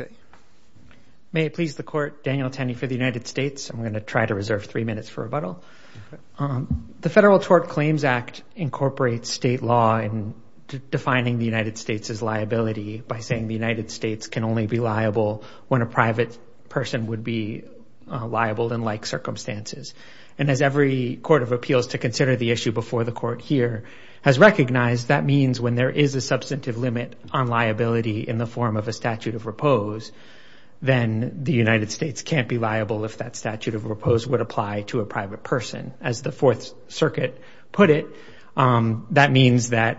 Okay. May it please the Court, Daniel Tenney for the United States. I'm going to try to reserve three minutes for rebuttal. The Federal Tort Claims Act incorporates state law in defining the United States as liability by saying the United States can only be liable when a private person would be liable in like circumstances. And as every court of appeals to consider the issue before the court here has recognized, that means when there is a substantive limit on liability in the form of a statute of repose, then the United States can't be liable if that statute of repose would apply to a private person. As the Fourth Circuit put it, that means that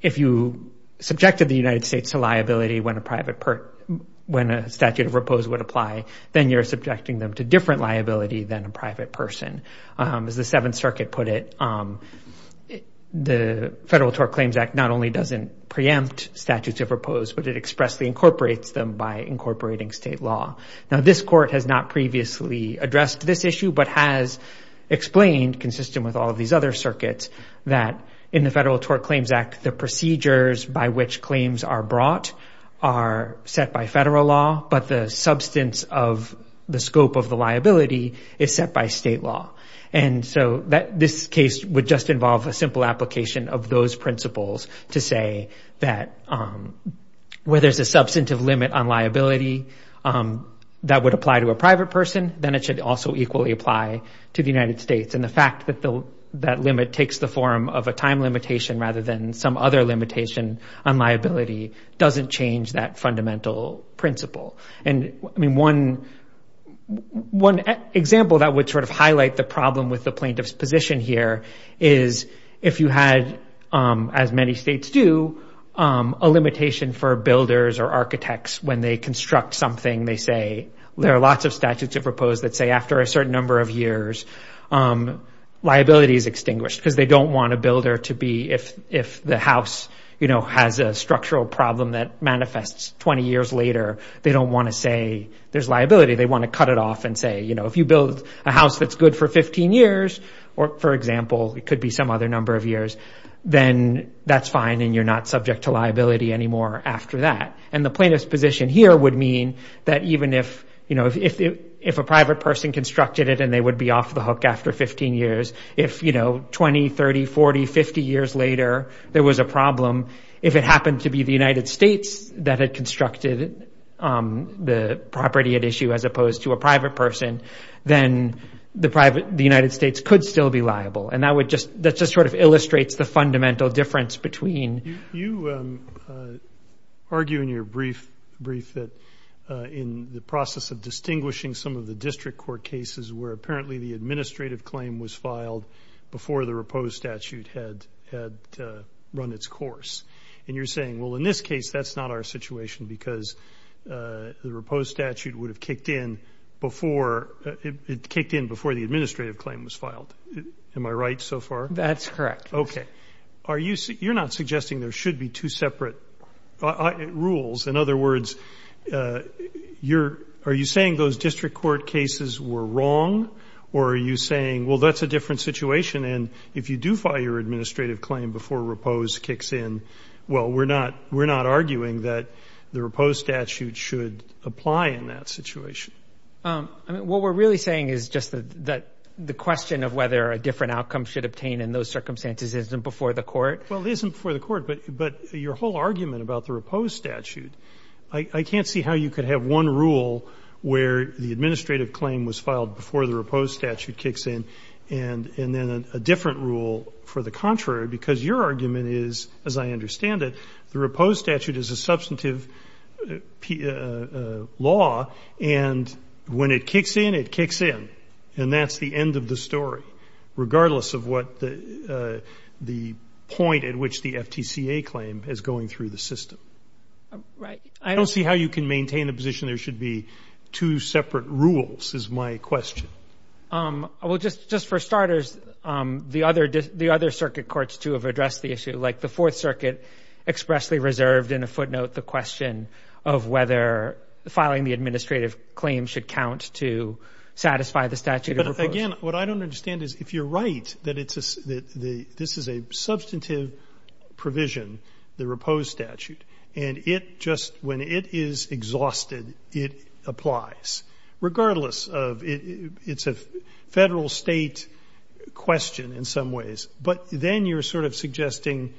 if you subjected the United States to liability when a statute of repose would apply, then you're subjecting them to different liability than a private person. As the Seventh Circuit put it, the Federal Tort Claims Act not only doesn't preempt statutes of repose, but it expressly incorporates them by incorporating state law. Now, this court has not previously addressed this issue, but has explained consistent with all of these other circuits that in the Federal Tort Claims Act, the procedures by which claims are brought are set by federal law, but the substance of the scope of the liability is set by state law. And so this case would just involve a simple application of those principles to say that where there's a substantive limit on liability that would apply to a private person, then it should also equally apply to the United States. And the fact that that limit takes the form of a time limitation rather than some other limitation on liability doesn't change that fundamental principle. And I mean, one example that would sort of highlight the problem with the plaintiff's position here is if you had, as many states do, a limitation for builders or architects when they construct something, they say, there are lots of statutes of repose that say after a certain number of years, liability is extinguished because they don't want a builder to be if the house has a structural problem that manifests 20 years later, they don't want to say there's liability, they want to cut it off and say, if you build a house that's good for 15 years, or for example, it could be some other number of years, then that's fine and you're not subject to liability anymore after that. And the plaintiff's position here would mean that even if a private person constructed it and they would be off the hook after 15 years, if 20, 30, 40, 50 years later, there was a problem, if it happened to be the United States that had constructed the property at issue as opposed to a private person, then the United States could still be liable. And that just sort of illustrates the fundamental difference between... You argue in your brief that in the process of distinguishing some of the district court cases where apparently the administrative claim was filed before the repose statute had run its course. And you're saying, well, in this case, that's not our situation because the repose statute would have kicked in before the administrative claim was filed. Am I right so far? That's correct. Okay. You're not suggesting there should be two separate rules. In other words, are you saying those district court cases were wrong? Or are you saying, well, that's a different situation and if you do file your administrative claim before repose kicks in, well, we're not arguing that the repose statute should apply in that situation. What we're really saying is just that the question of whether a different outcome should obtain in those circumstances isn't before the court. Well, it isn't before the court. But your whole argument about the repose statute, I can't see how you could have one rule where the administrative claim was filed before the repose statute kicks in and then a different rule for the contrary because your argument is, as I understand it, the repose statute is a substantive law and when it kicks in, it kicks in. And that's the end of the story regardless of what the point at which the FTCA claim is going through the system. Right. I don't see how you can maintain a position there should be two separate rules is my question. Well, just for starters, the other circuit courts too have addressed the issue. Like the Fourth Circuit expressly reserved in a footnote the question of whether filing the administrative claim should count to satisfy the statute of repose. But again, what I don't understand is if you're right that this is a substantive provision, the repose statute, and it just when it is exhausted, it applies. Regardless of it's a federal state question in some ways. But then you're sort of suggesting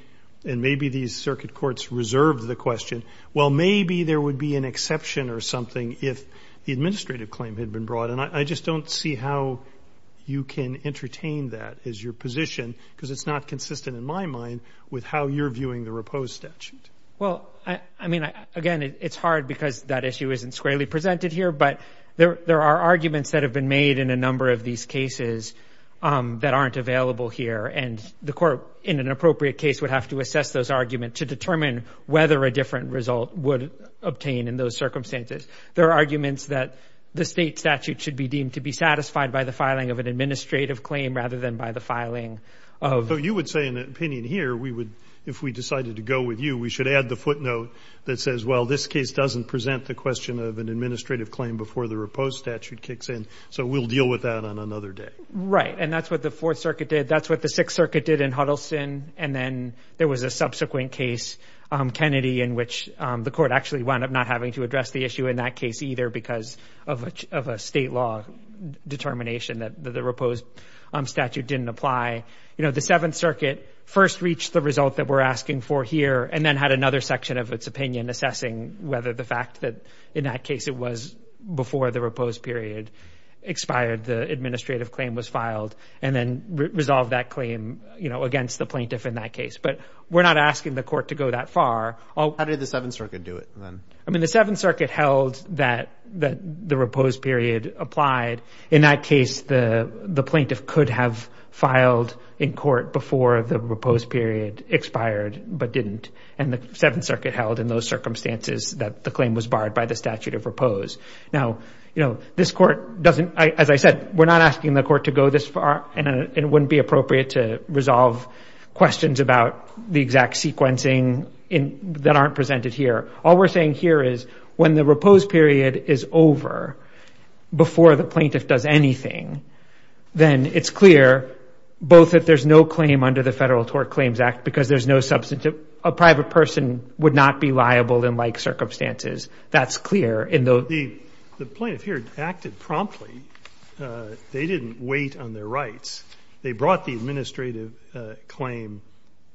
and maybe these circuit courts reserved the question, well, maybe there would be an exception or something if the administrative claim had been brought. And I just don't see how you can entertain that as your position because it's not consistent in my mind with how you're viewing the repose statute. Well, I mean, again, it's hard because that issue isn't squarely presented here, but there are arguments that have been made in a number of these cases that aren't available here. And the court in an appropriate case would have to assess those arguments to determine whether a different result would obtain in those circumstances. There are arguments that the state statute should be deemed to be satisfied by the filing of an administrative claim rather than by the filing of. You would say in an opinion here, we would, if we decided to go with you, we should add the footnote that says, well, this case doesn't present the question of an administrative claim before the repose statute kicks in. So we'll deal with that on another day. Right. And that's what the Fourth Circuit did. That's what the Sixth Circuit did in Huddleston. And then there was a subsequent case, Kennedy, in which the court actually wound up not having to address the issue in that case either because of a state law determination that the repose statute didn't apply. You know, the Seventh Circuit first reached the result that we're asking for here and then had another section of its opinion assessing whether the fact that in that case it was you know, against the plaintiff in that case, but we're not asking the court to go that far. How did the Seventh Circuit do it then? I mean, the Seventh Circuit held that the repose period applied. In that case, the plaintiff could have filed in court before the repose period expired, but didn't. And the Seventh Circuit held in those circumstances that the claim was barred by the statute of repose. Now, you know, this court doesn't, as I said, we're not asking the court to go this far and it wouldn't be appropriate to resolve questions about the exact sequencing that aren't presented here. All we're saying here is when the repose period is over, before the plaintiff does anything, then it's clear both that there's no claim under the Federal Tort Claims Act because there's no substantive, a private person would not be liable in like circumstances. That's clear. But the plaintiff here acted promptly. They didn't wait on their rights. They brought the administrative claim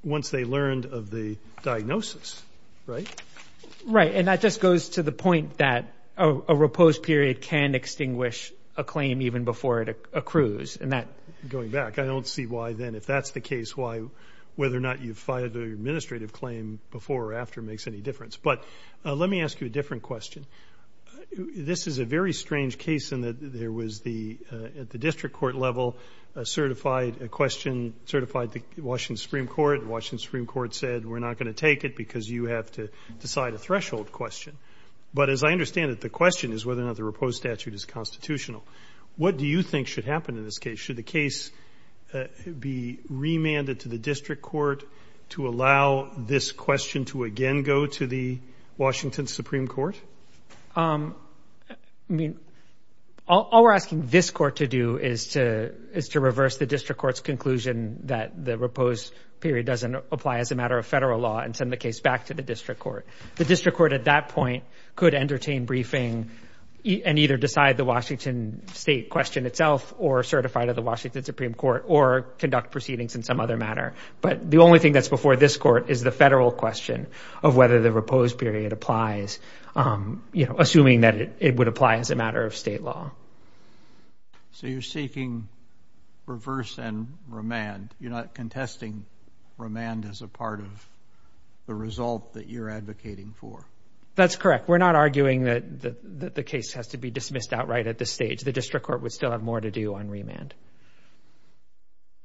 once they learned of the diagnosis, right? Right. And that just goes to the point that a repose period can extinguish a claim even before it accrues. And that, going back, I don't see why then, if that's the case, why whether or not you've filed an administrative claim before or after makes any difference. But let me ask you a different question. This is a very strange case in that there was the, at the district court level, a certified question, certified, the Washington Supreme Court, Washington Supreme Court said, we're not going to take it because you have to decide a threshold question. But as I understand it, the question is whether or not the repose statute is constitutional. What do you think should happen in this case? Should the case be remanded to the district court to allow this question to again go to the Washington Supreme Court? I mean, all we're asking this court to do is to reverse the district court's conclusion that the repose period doesn't apply as a matter of federal law and send the case back to the district court. The district court at that point could entertain briefing and either decide the Washington state question itself or certify to the Washington Supreme Court or conduct proceedings in some other manner. But the only thing that's before this court is the federal question of whether the repose period applies, assuming that it would apply as a matter of state law. So you're seeking reverse and remand. You're not contesting remand as a part of the result that you're advocating for. That's correct. We're not arguing that the case has to be dismissed outright at this stage. The district court would still have more to do on remand.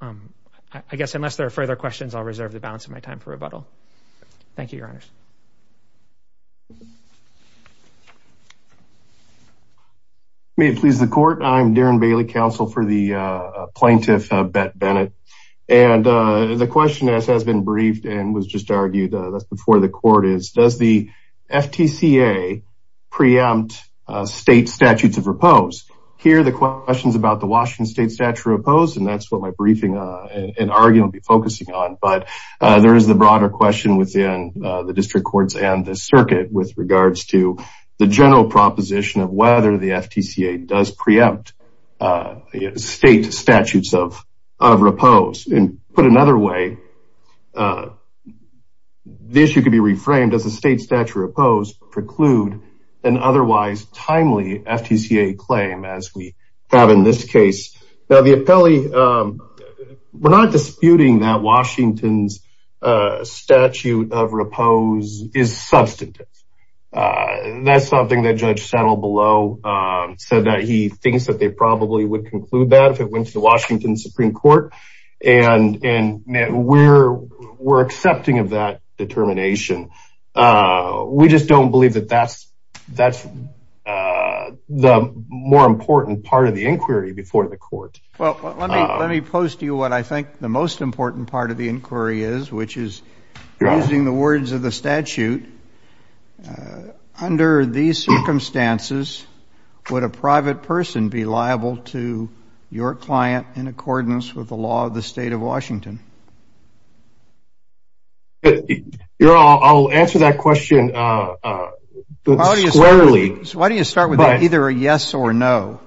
I guess unless there are further questions, I'll reserve the balance of my time for rebuttal. Thank you, your honors. May it please the court. I'm Darren Bailey, counsel for the plaintiff, Bet Bennett. And the question that has been briefed and was just argued before the court is does the FTCA preempt state statutes of repose? Here are the questions about the Washington state statutes of repose. And that's what my briefing and argument will be focusing on. But there is the broader question within the district courts and the circuit with regards to the general proposition of whether the FTCA does preempt state statutes of repose. And put another way, the issue could be reframed as the state statute of repose preclude an otherwise timely FTCA claim as we have in this case. Now, the appellee, we're not disputing that Washington's statute of repose is substantive. That's something that Judge Settle below said that he thinks that they probably would conclude that if it went to the Washington Supreme Court. And we're accepting of that determination. We just don't believe that that's the more important part of the inquiry before the court. Well, let me post to you what I think the most important part of the inquiry is, which is using the words of the statute. Under these circumstances, would a private person be liable to your client in accordance with the law of the state of Washington? I'll answer that question squarely. Why do you start with either a yes or no?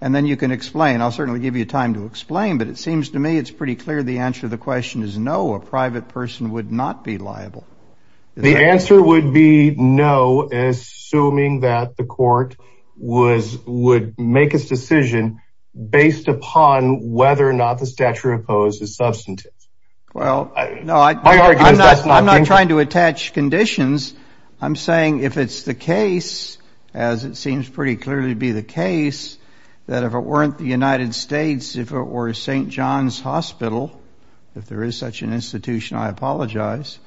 And then you can explain. I'll certainly give you time to explain. But it seems to me it's pretty clear the answer to the question is no, a private person would not be liable. The answer would be no, assuming that the court would make its decision based upon whether or not the statute of repose is substantive. Well, no, I'm not trying to attach conditions. I'm saying if it's the case, as it seems pretty clearly to be the case, that if it weren't the United States, if it were St. John's Hospital, if there is such an institution, I apologize,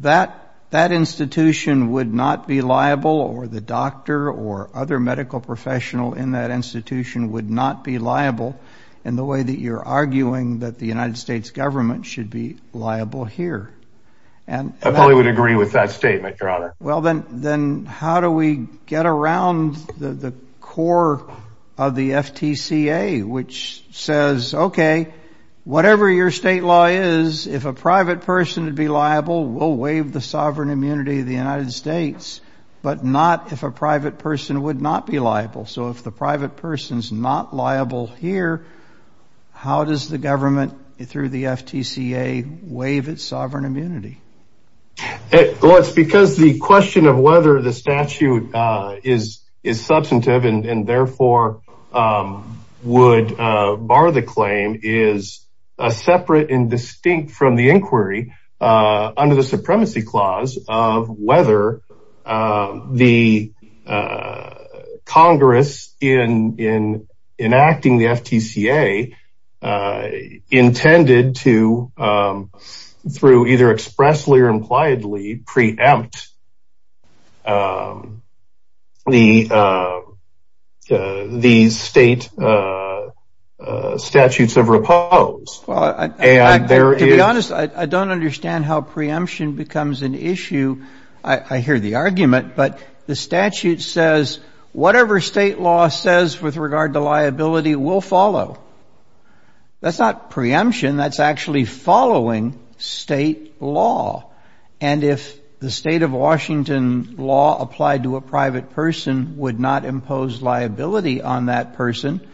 that that institution would not be liable or the doctor or other medical professional in that institution would not be liable in the way that you're arguing that the United States government should be liable here. I probably would agree with that statement, Your Honor. Well, then how do we get around the core of the FTCA, which says, OK, whatever your state law is, if a private person would be liable, we'll waive the sovereign immunity of the United States, but not if a private person would not be liable. So if the private person's not liable here, how does the government through the FTCA waive its sovereign immunity? Well, it's because the question of whether the statute is substantive and therefore would bar the claim is separate and distinct from the inquiry under the supremacy clause of whether the Congress in enacting the FTCA intended to, through either expressly or impliedly, preempt the state statutes of repose. Well, to be honest, I don't understand how preemption becomes an issue. I hear the argument, but the statute says whatever state law says with regard to liability will follow. That's not preemption. That's actually following state law. And if the state of Washington law applied to a private person would not impose liability on that person,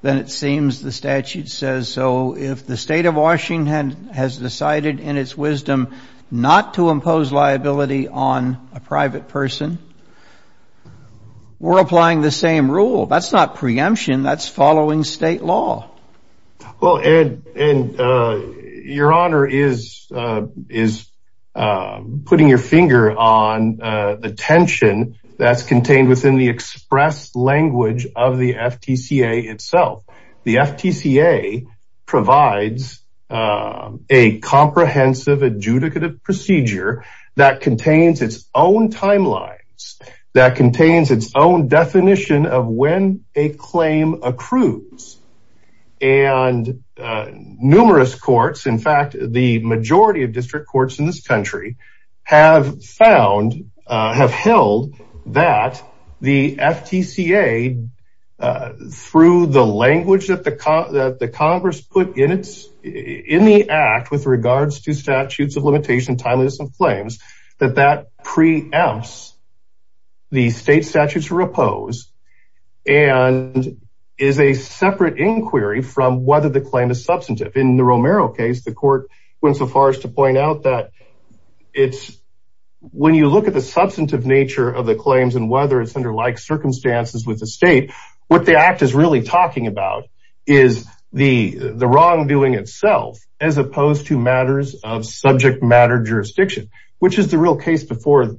then it seems the statute says so. If the state of Washington has decided in its wisdom not to impose liability on a private person, we're applying the same rule. That's not preemption. That's following state law. Well, and your honor is putting your finger on the tension that's contained within the express language of the FTCA itself. The FTCA provides a comprehensive adjudicative procedure that contains its own timelines that contains its own definition of when a claim accrues. And numerous courts, in fact, the majority of district courts in this country, have found, have held that the FTCA, through the language that the Congress put in the act with regards to statutes of limitation, timeliness of claims, that that preempts the state statutes to repose and is a separate inquiry from whether the claim is substantive. In the Romero case, the court went so far as to point out that it's when you look at the substantive nature of the claims and whether it's under like circumstances with the state, what the act is really talking about is the wrongdoing itself, as opposed to matters of subject matter jurisdiction, which is the real case before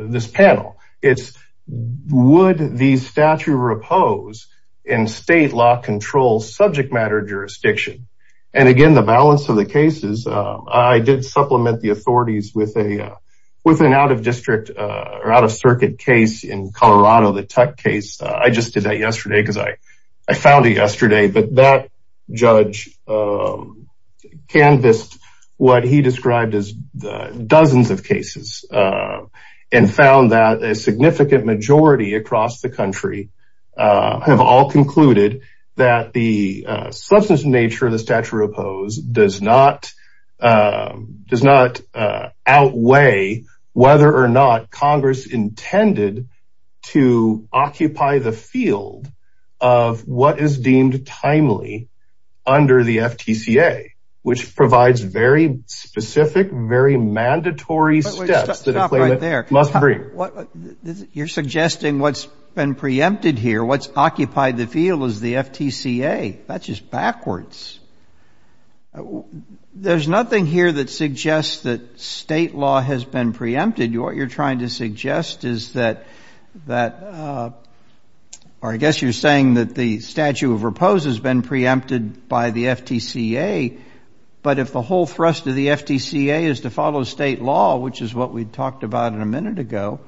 this panel. It's would the statute repose in state law control subject matter jurisdiction. And again, the balance of the cases, I did supplement the authorities with an out of district or out of circuit case in Colorado, the Tuck case. I just did that yesterday because I found it yesterday. But that judge canvassed what he described as dozens of cases and found that a significant majority across the country have all concluded that the substantive nature of the statute repose does not does not outweigh whether or not Congress intended to occupy the field of what is deemed timely under the FTCA, which provides very specific, very mandatory steps that must bring what you're suggesting. What's been preempted here? What's occupied the field is the FTCA. That's just backwards. There's nothing here that suggests that state law has been preempted. What you're trying to suggest is that that or I guess you're saying that the statute of repose has been preempted by the FTCA. But if the whole thrust of the FTCA is to follow state law, which is what we talked about in a minute ago,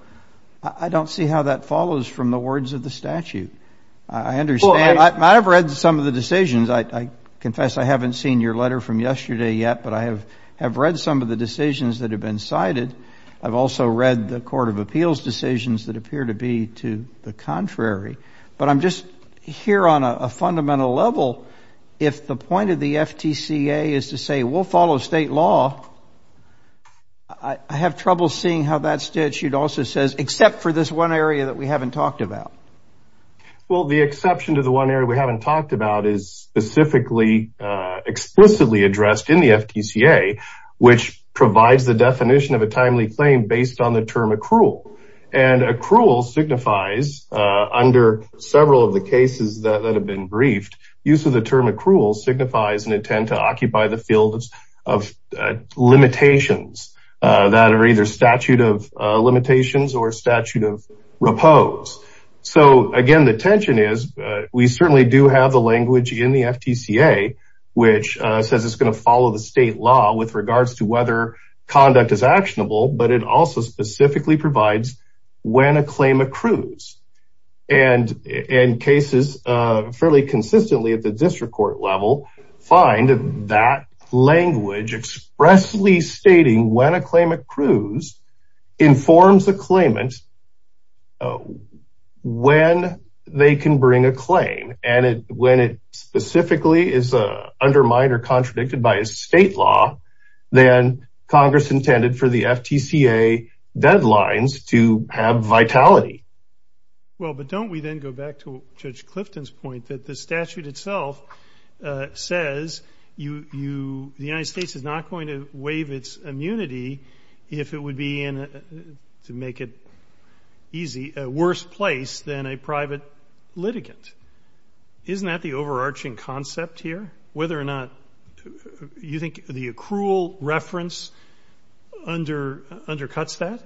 I don't see how that follows from the words of the statute. I understand. I've read some of the decisions. I confess I haven't seen your letter from yesterday yet, but I have read some of the decisions that have been cited. I've also read the Court of Appeals decisions that appear to be to the contrary. But I'm just here on a fundamental level. If the point of the FTCA is to say we'll follow state law, I have trouble seeing how that statute also says, except for this one area that we haven't talked about. Well, the exception to the one area we haven't talked about is specifically explicitly addressed in the FTCA, which provides the definition of a timely claim based on the term accrual and accrual signifies under several of the cases that have been briefed. Use of the term accrual signifies an intent to occupy the field of limitations that are either statute of limitations or statute of repose. So, again, the tension is we certainly do have the language in the FTCA, which says it's going to follow the state law with regards to whether conduct is actionable. But it also specifically provides when a claim accrues and in cases fairly consistently at the district court level, find that language expressly stating when a claim accrues informs the claimant when they can bring a claim. And when it specifically is undermined or contradicted by a state law, then Congress intended for the FTCA deadlines to have vitality. Well, but don't we then go back to Judge Clifton's point that the statute itself says the United States should make it easy, a worse place than a private litigant. Isn't that the overarching concept here? Whether or not you think the accrual reference undercuts that?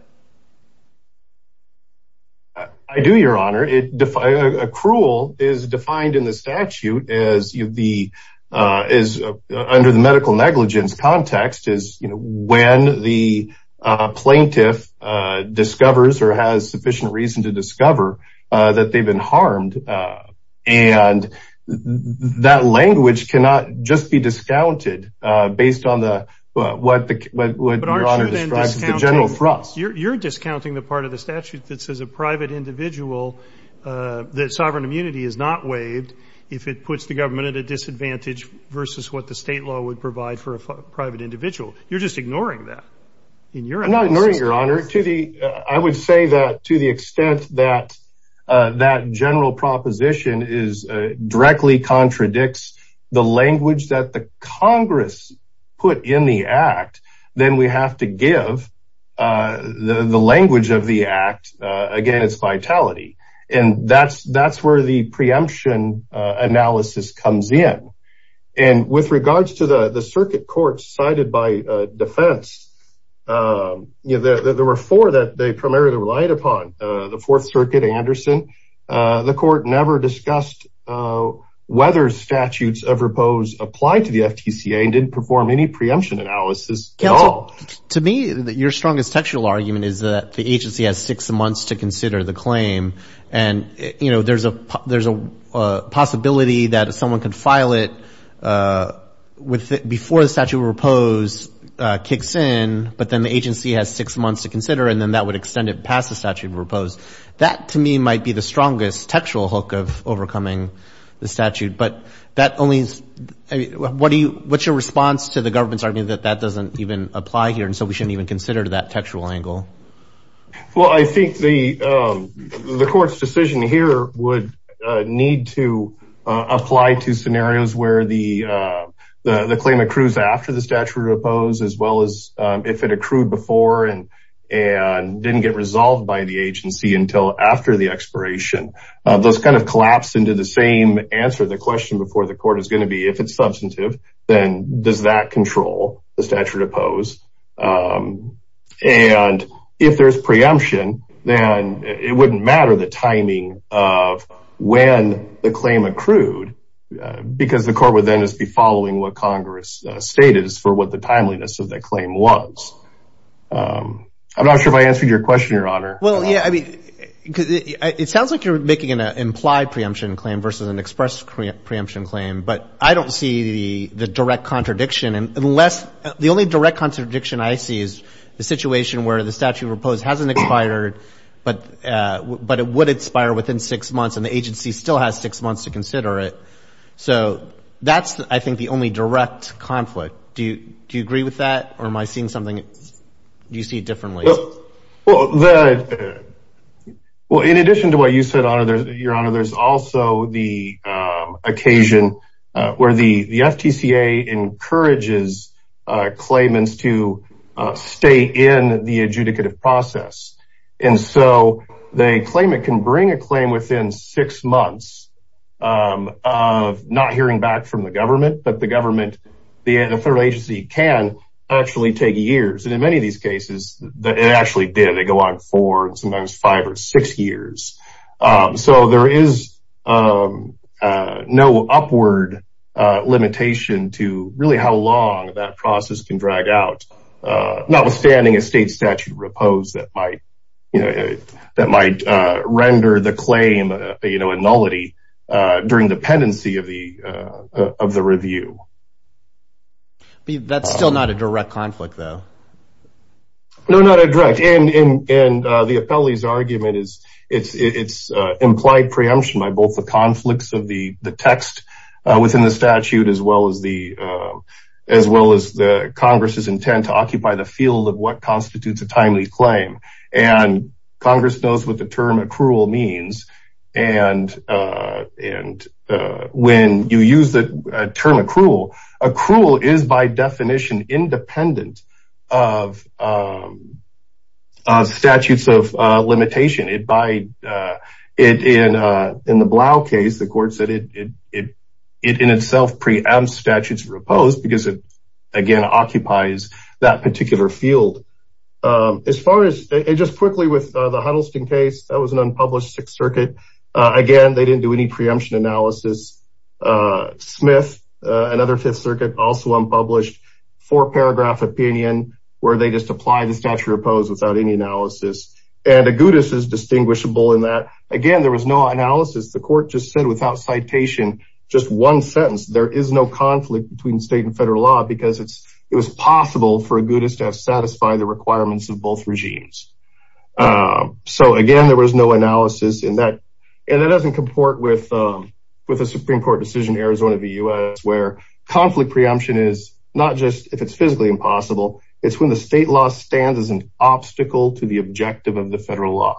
I do, Your Honor. Accrual is defined in the statute as under the medical negligence context is when the plaintiff discovers or has sufficient reason to discover that they've been harmed. And that language cannot just be discounted based on the general thrust. You're discounting the part of the statute that says a private individual, that sovereign immunity is not waived if it puts the government at a disadvantage versus what the state law would provide for a private individual. You're just ignoring that. I'm not ignoring, Your Honor. I would say that to the extent that that general proposition is directly contradicts the language that the Congress put in the act, then we have to give the language of the act against vitality. And that's where the preemption analysis comes in. And with regards to the circuit court cited by defense, there were four that they primarily relied upon. The Fourth Circuit, Anderson, the court never discussed whether statutes of repose apply to the FTCA and didn't perform any preemption analysis at all. To me, your strongest textual argument is that the agency has six months to consider the claim, and there's a possibility that someone could file it before the statute of repose kicks in, but then the agency has six months to consider, and then that would extend it past the statute of repose. That, to me, might be the strongest textual hook of overcoming the statute. But what's your response to the government's argument that that doesn't even apply here, and so we shouldn't even consider that textual angle? Well, I think the court's decision here would need to apply to scenarios where the claim accrues after the statute of repose, as well as if it accrued before and didn't get resolved by the agency until after the expiration. Those kind of collapse into the same answer the question before the court is going to be, if it's substantive, then does that control the statute of repose? And if there's preemption, then it wouldn't matter the timing of when the claim accrued because the court would then just be following what Congress stated as for what the timeliness of that claim was. I'm not sure if I answered your question, Your Honor. Well, yeah, I mean, it sounds like you're making an implied preemption claim versus an express preemption claim, but I don't see the direct contradiction. The only direct contradiction I see is the situation where the statute of repose hasn't expired, but it would expire within six months, and the agency still has six months to consider it. So that's, I think, the only direct conflict. Do you agree with that, or am I seeing something you see differently? Well, in addition to what you said, Your Honor, there's also the occasion where the state judges claimants to stay in the adjudicative process. And so they claim it can bring a claim within six months of not hearing back from the government, but the government, the federal agency can actually take years. And in many of these cases, it actually did. They go on for sometimes five or six years. So there is no upward limitation to really how long that process can drag out. Notwithstanding a state statute of repose that might render the claim a nullity during the pendency of the review. That's still not a direct conflict, though. No, not a direct. And the appellee's argument is it's implied preemption by both the conflicts of the text within the statute, as well as the Congress's intent to occupy the field of what constitutes a timely claim. And Congress knows what the term accrual means. And when you use the term accrual, accrual is, by definition, independent of statutes of limitation. In the Blau case, the court said it in itself preempts statutes of repose because it, again, occupies that particular field. As far as, just quickly with the Huddleston case, that was an unpublished Sixth Circuit. Again, they didn't do any preemption analysis. Smith, another Fifth Circuit, also unpublished. Four-paragraph opinion where they just apply the statute of repose without any analysis. And Agudas is distinguishable in that. Again, there was no analysis. The court just said without citation, just one sentence, there is no conflict between state and federal law because it was possible for Agudas to have satisfied the requirements of both regimes. So, again, there was no analysis in that. And that doesn't comport with a Supreme Court decision in Arizona v. U.S. where conflict preemption is not just if it's physically impossible. It's when the state law stands as an obstacle to the objective of the federal law.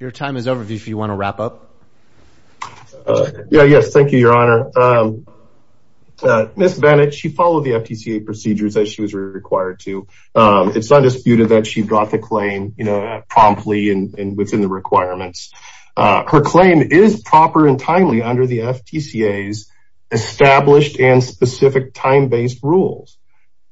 Your time is over if you want to wrap up. Yeah, yes. Thank you, Your Honor. Ms. Bennett, she followed the FTCA procedures as she was required to. It's undisputed that she got the claim promptly and within the requirements. Her claim is proper and timely under the FTCA's established and specific time-based rules.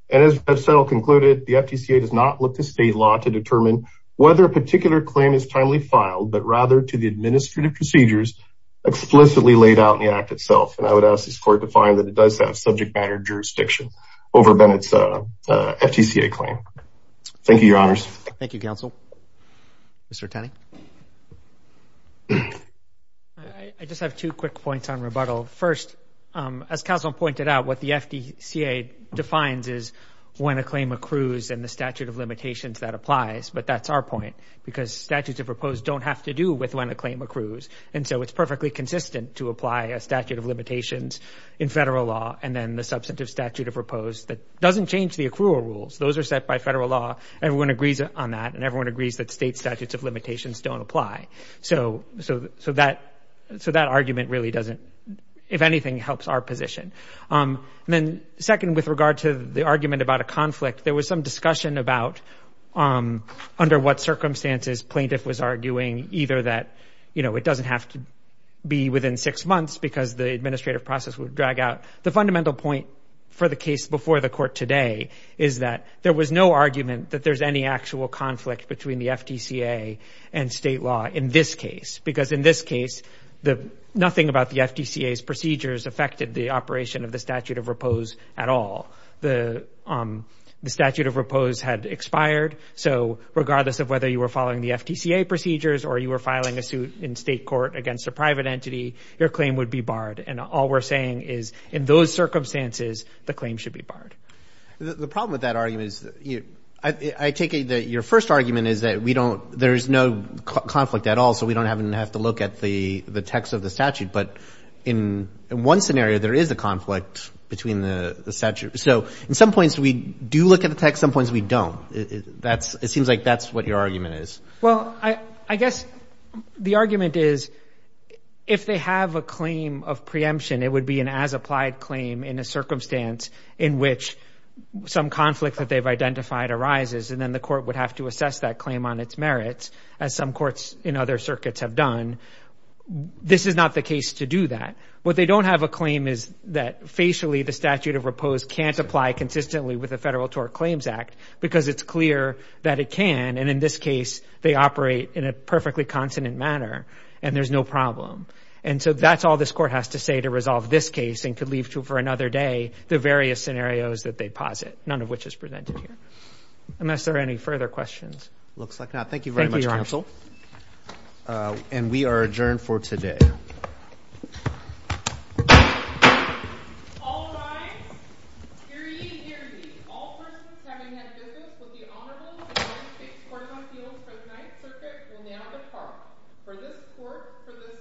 And as I've said, I'll conclude it. The FTCA does not look to state law to determine whether a particular claim is timely filed but rather to the administrative procedures explicitly laid out in the Act itself. And I would ask this Court to find that it does have subject matter jurisdiction over Bennett's FTCA claim. Thank you, Your Honors. Thank you, Counsel. Mr. Tenney. I just have two quick points on rebuttal. First, as Counsel pointed out, what the FTCA defines is when a claim accrues and the statute of limitations that applies. But that's our point because statutes of repose don't have to do with when a claim accrues. And so it's perfectly consistent to apply a statute of limitations in federal law and then the substantive statute of repose that doesn't change the accrual rules. Those are set by federal law. Everyone agrees on that, and everyone agrees that state statutes of limitations don't apply. So that argument really doesn't, if anything, help our position. And then second, with regard to the argument about a conflict, there was some discussion about under what circumstances plaintiff was arguing either that it doesn't have to be within six months because the administrative process would drag out. The fundamental point for the case before the Court today is that there was no argument that there's any actual conflict between the FTCA and state law in this case Nothing about the FTCA's procedures affected the operation of the statute of repose at all. The statute of repose had expired. So regardless of whether you were following the FTCA procedures or you were filing a suit in state court against a private entity, your claim would be barred. And all we're saying is in those circumstances, the claim should be barred. The problem with that argument is I take it that your first argument is that there's no conflict at all, so we don't have to look at the text of the statute. But in one scenario, there is a conflict between the statute. So in some points, we do look at the text. Some points, we don't. It seems like that's what your argument is. Well, I guess the argument is if they have a claim of preemption, it would be an as-applied claim in a circumstance in which some conflict that they've identified arises. And then the court would have to assess that claim on its merits as some courts in other circuits have done. This is not the case to do that. What they don't have a claim is that facially the statute of repose can't apply consistently with the Federal Tort Claims Act because it's clear that it can. And in this case, they operate in a perfectly consonant manner. And there's no problem. And so that's all this court has to say to resolve this case and could leave to for another day the various scenarios that they posit, none of which is presented here. Unless there are any further questions. Looks like not. Thank you very much, counsel. Thank you, Your Honor. And we are adjourned for today. All rise. Hear ye, hear ye. All persons having had business with the Honorable in the United States Court of Appeals for the Ninth Circuit will now depart. For this court, for this session, now stands adjourned. Thank you.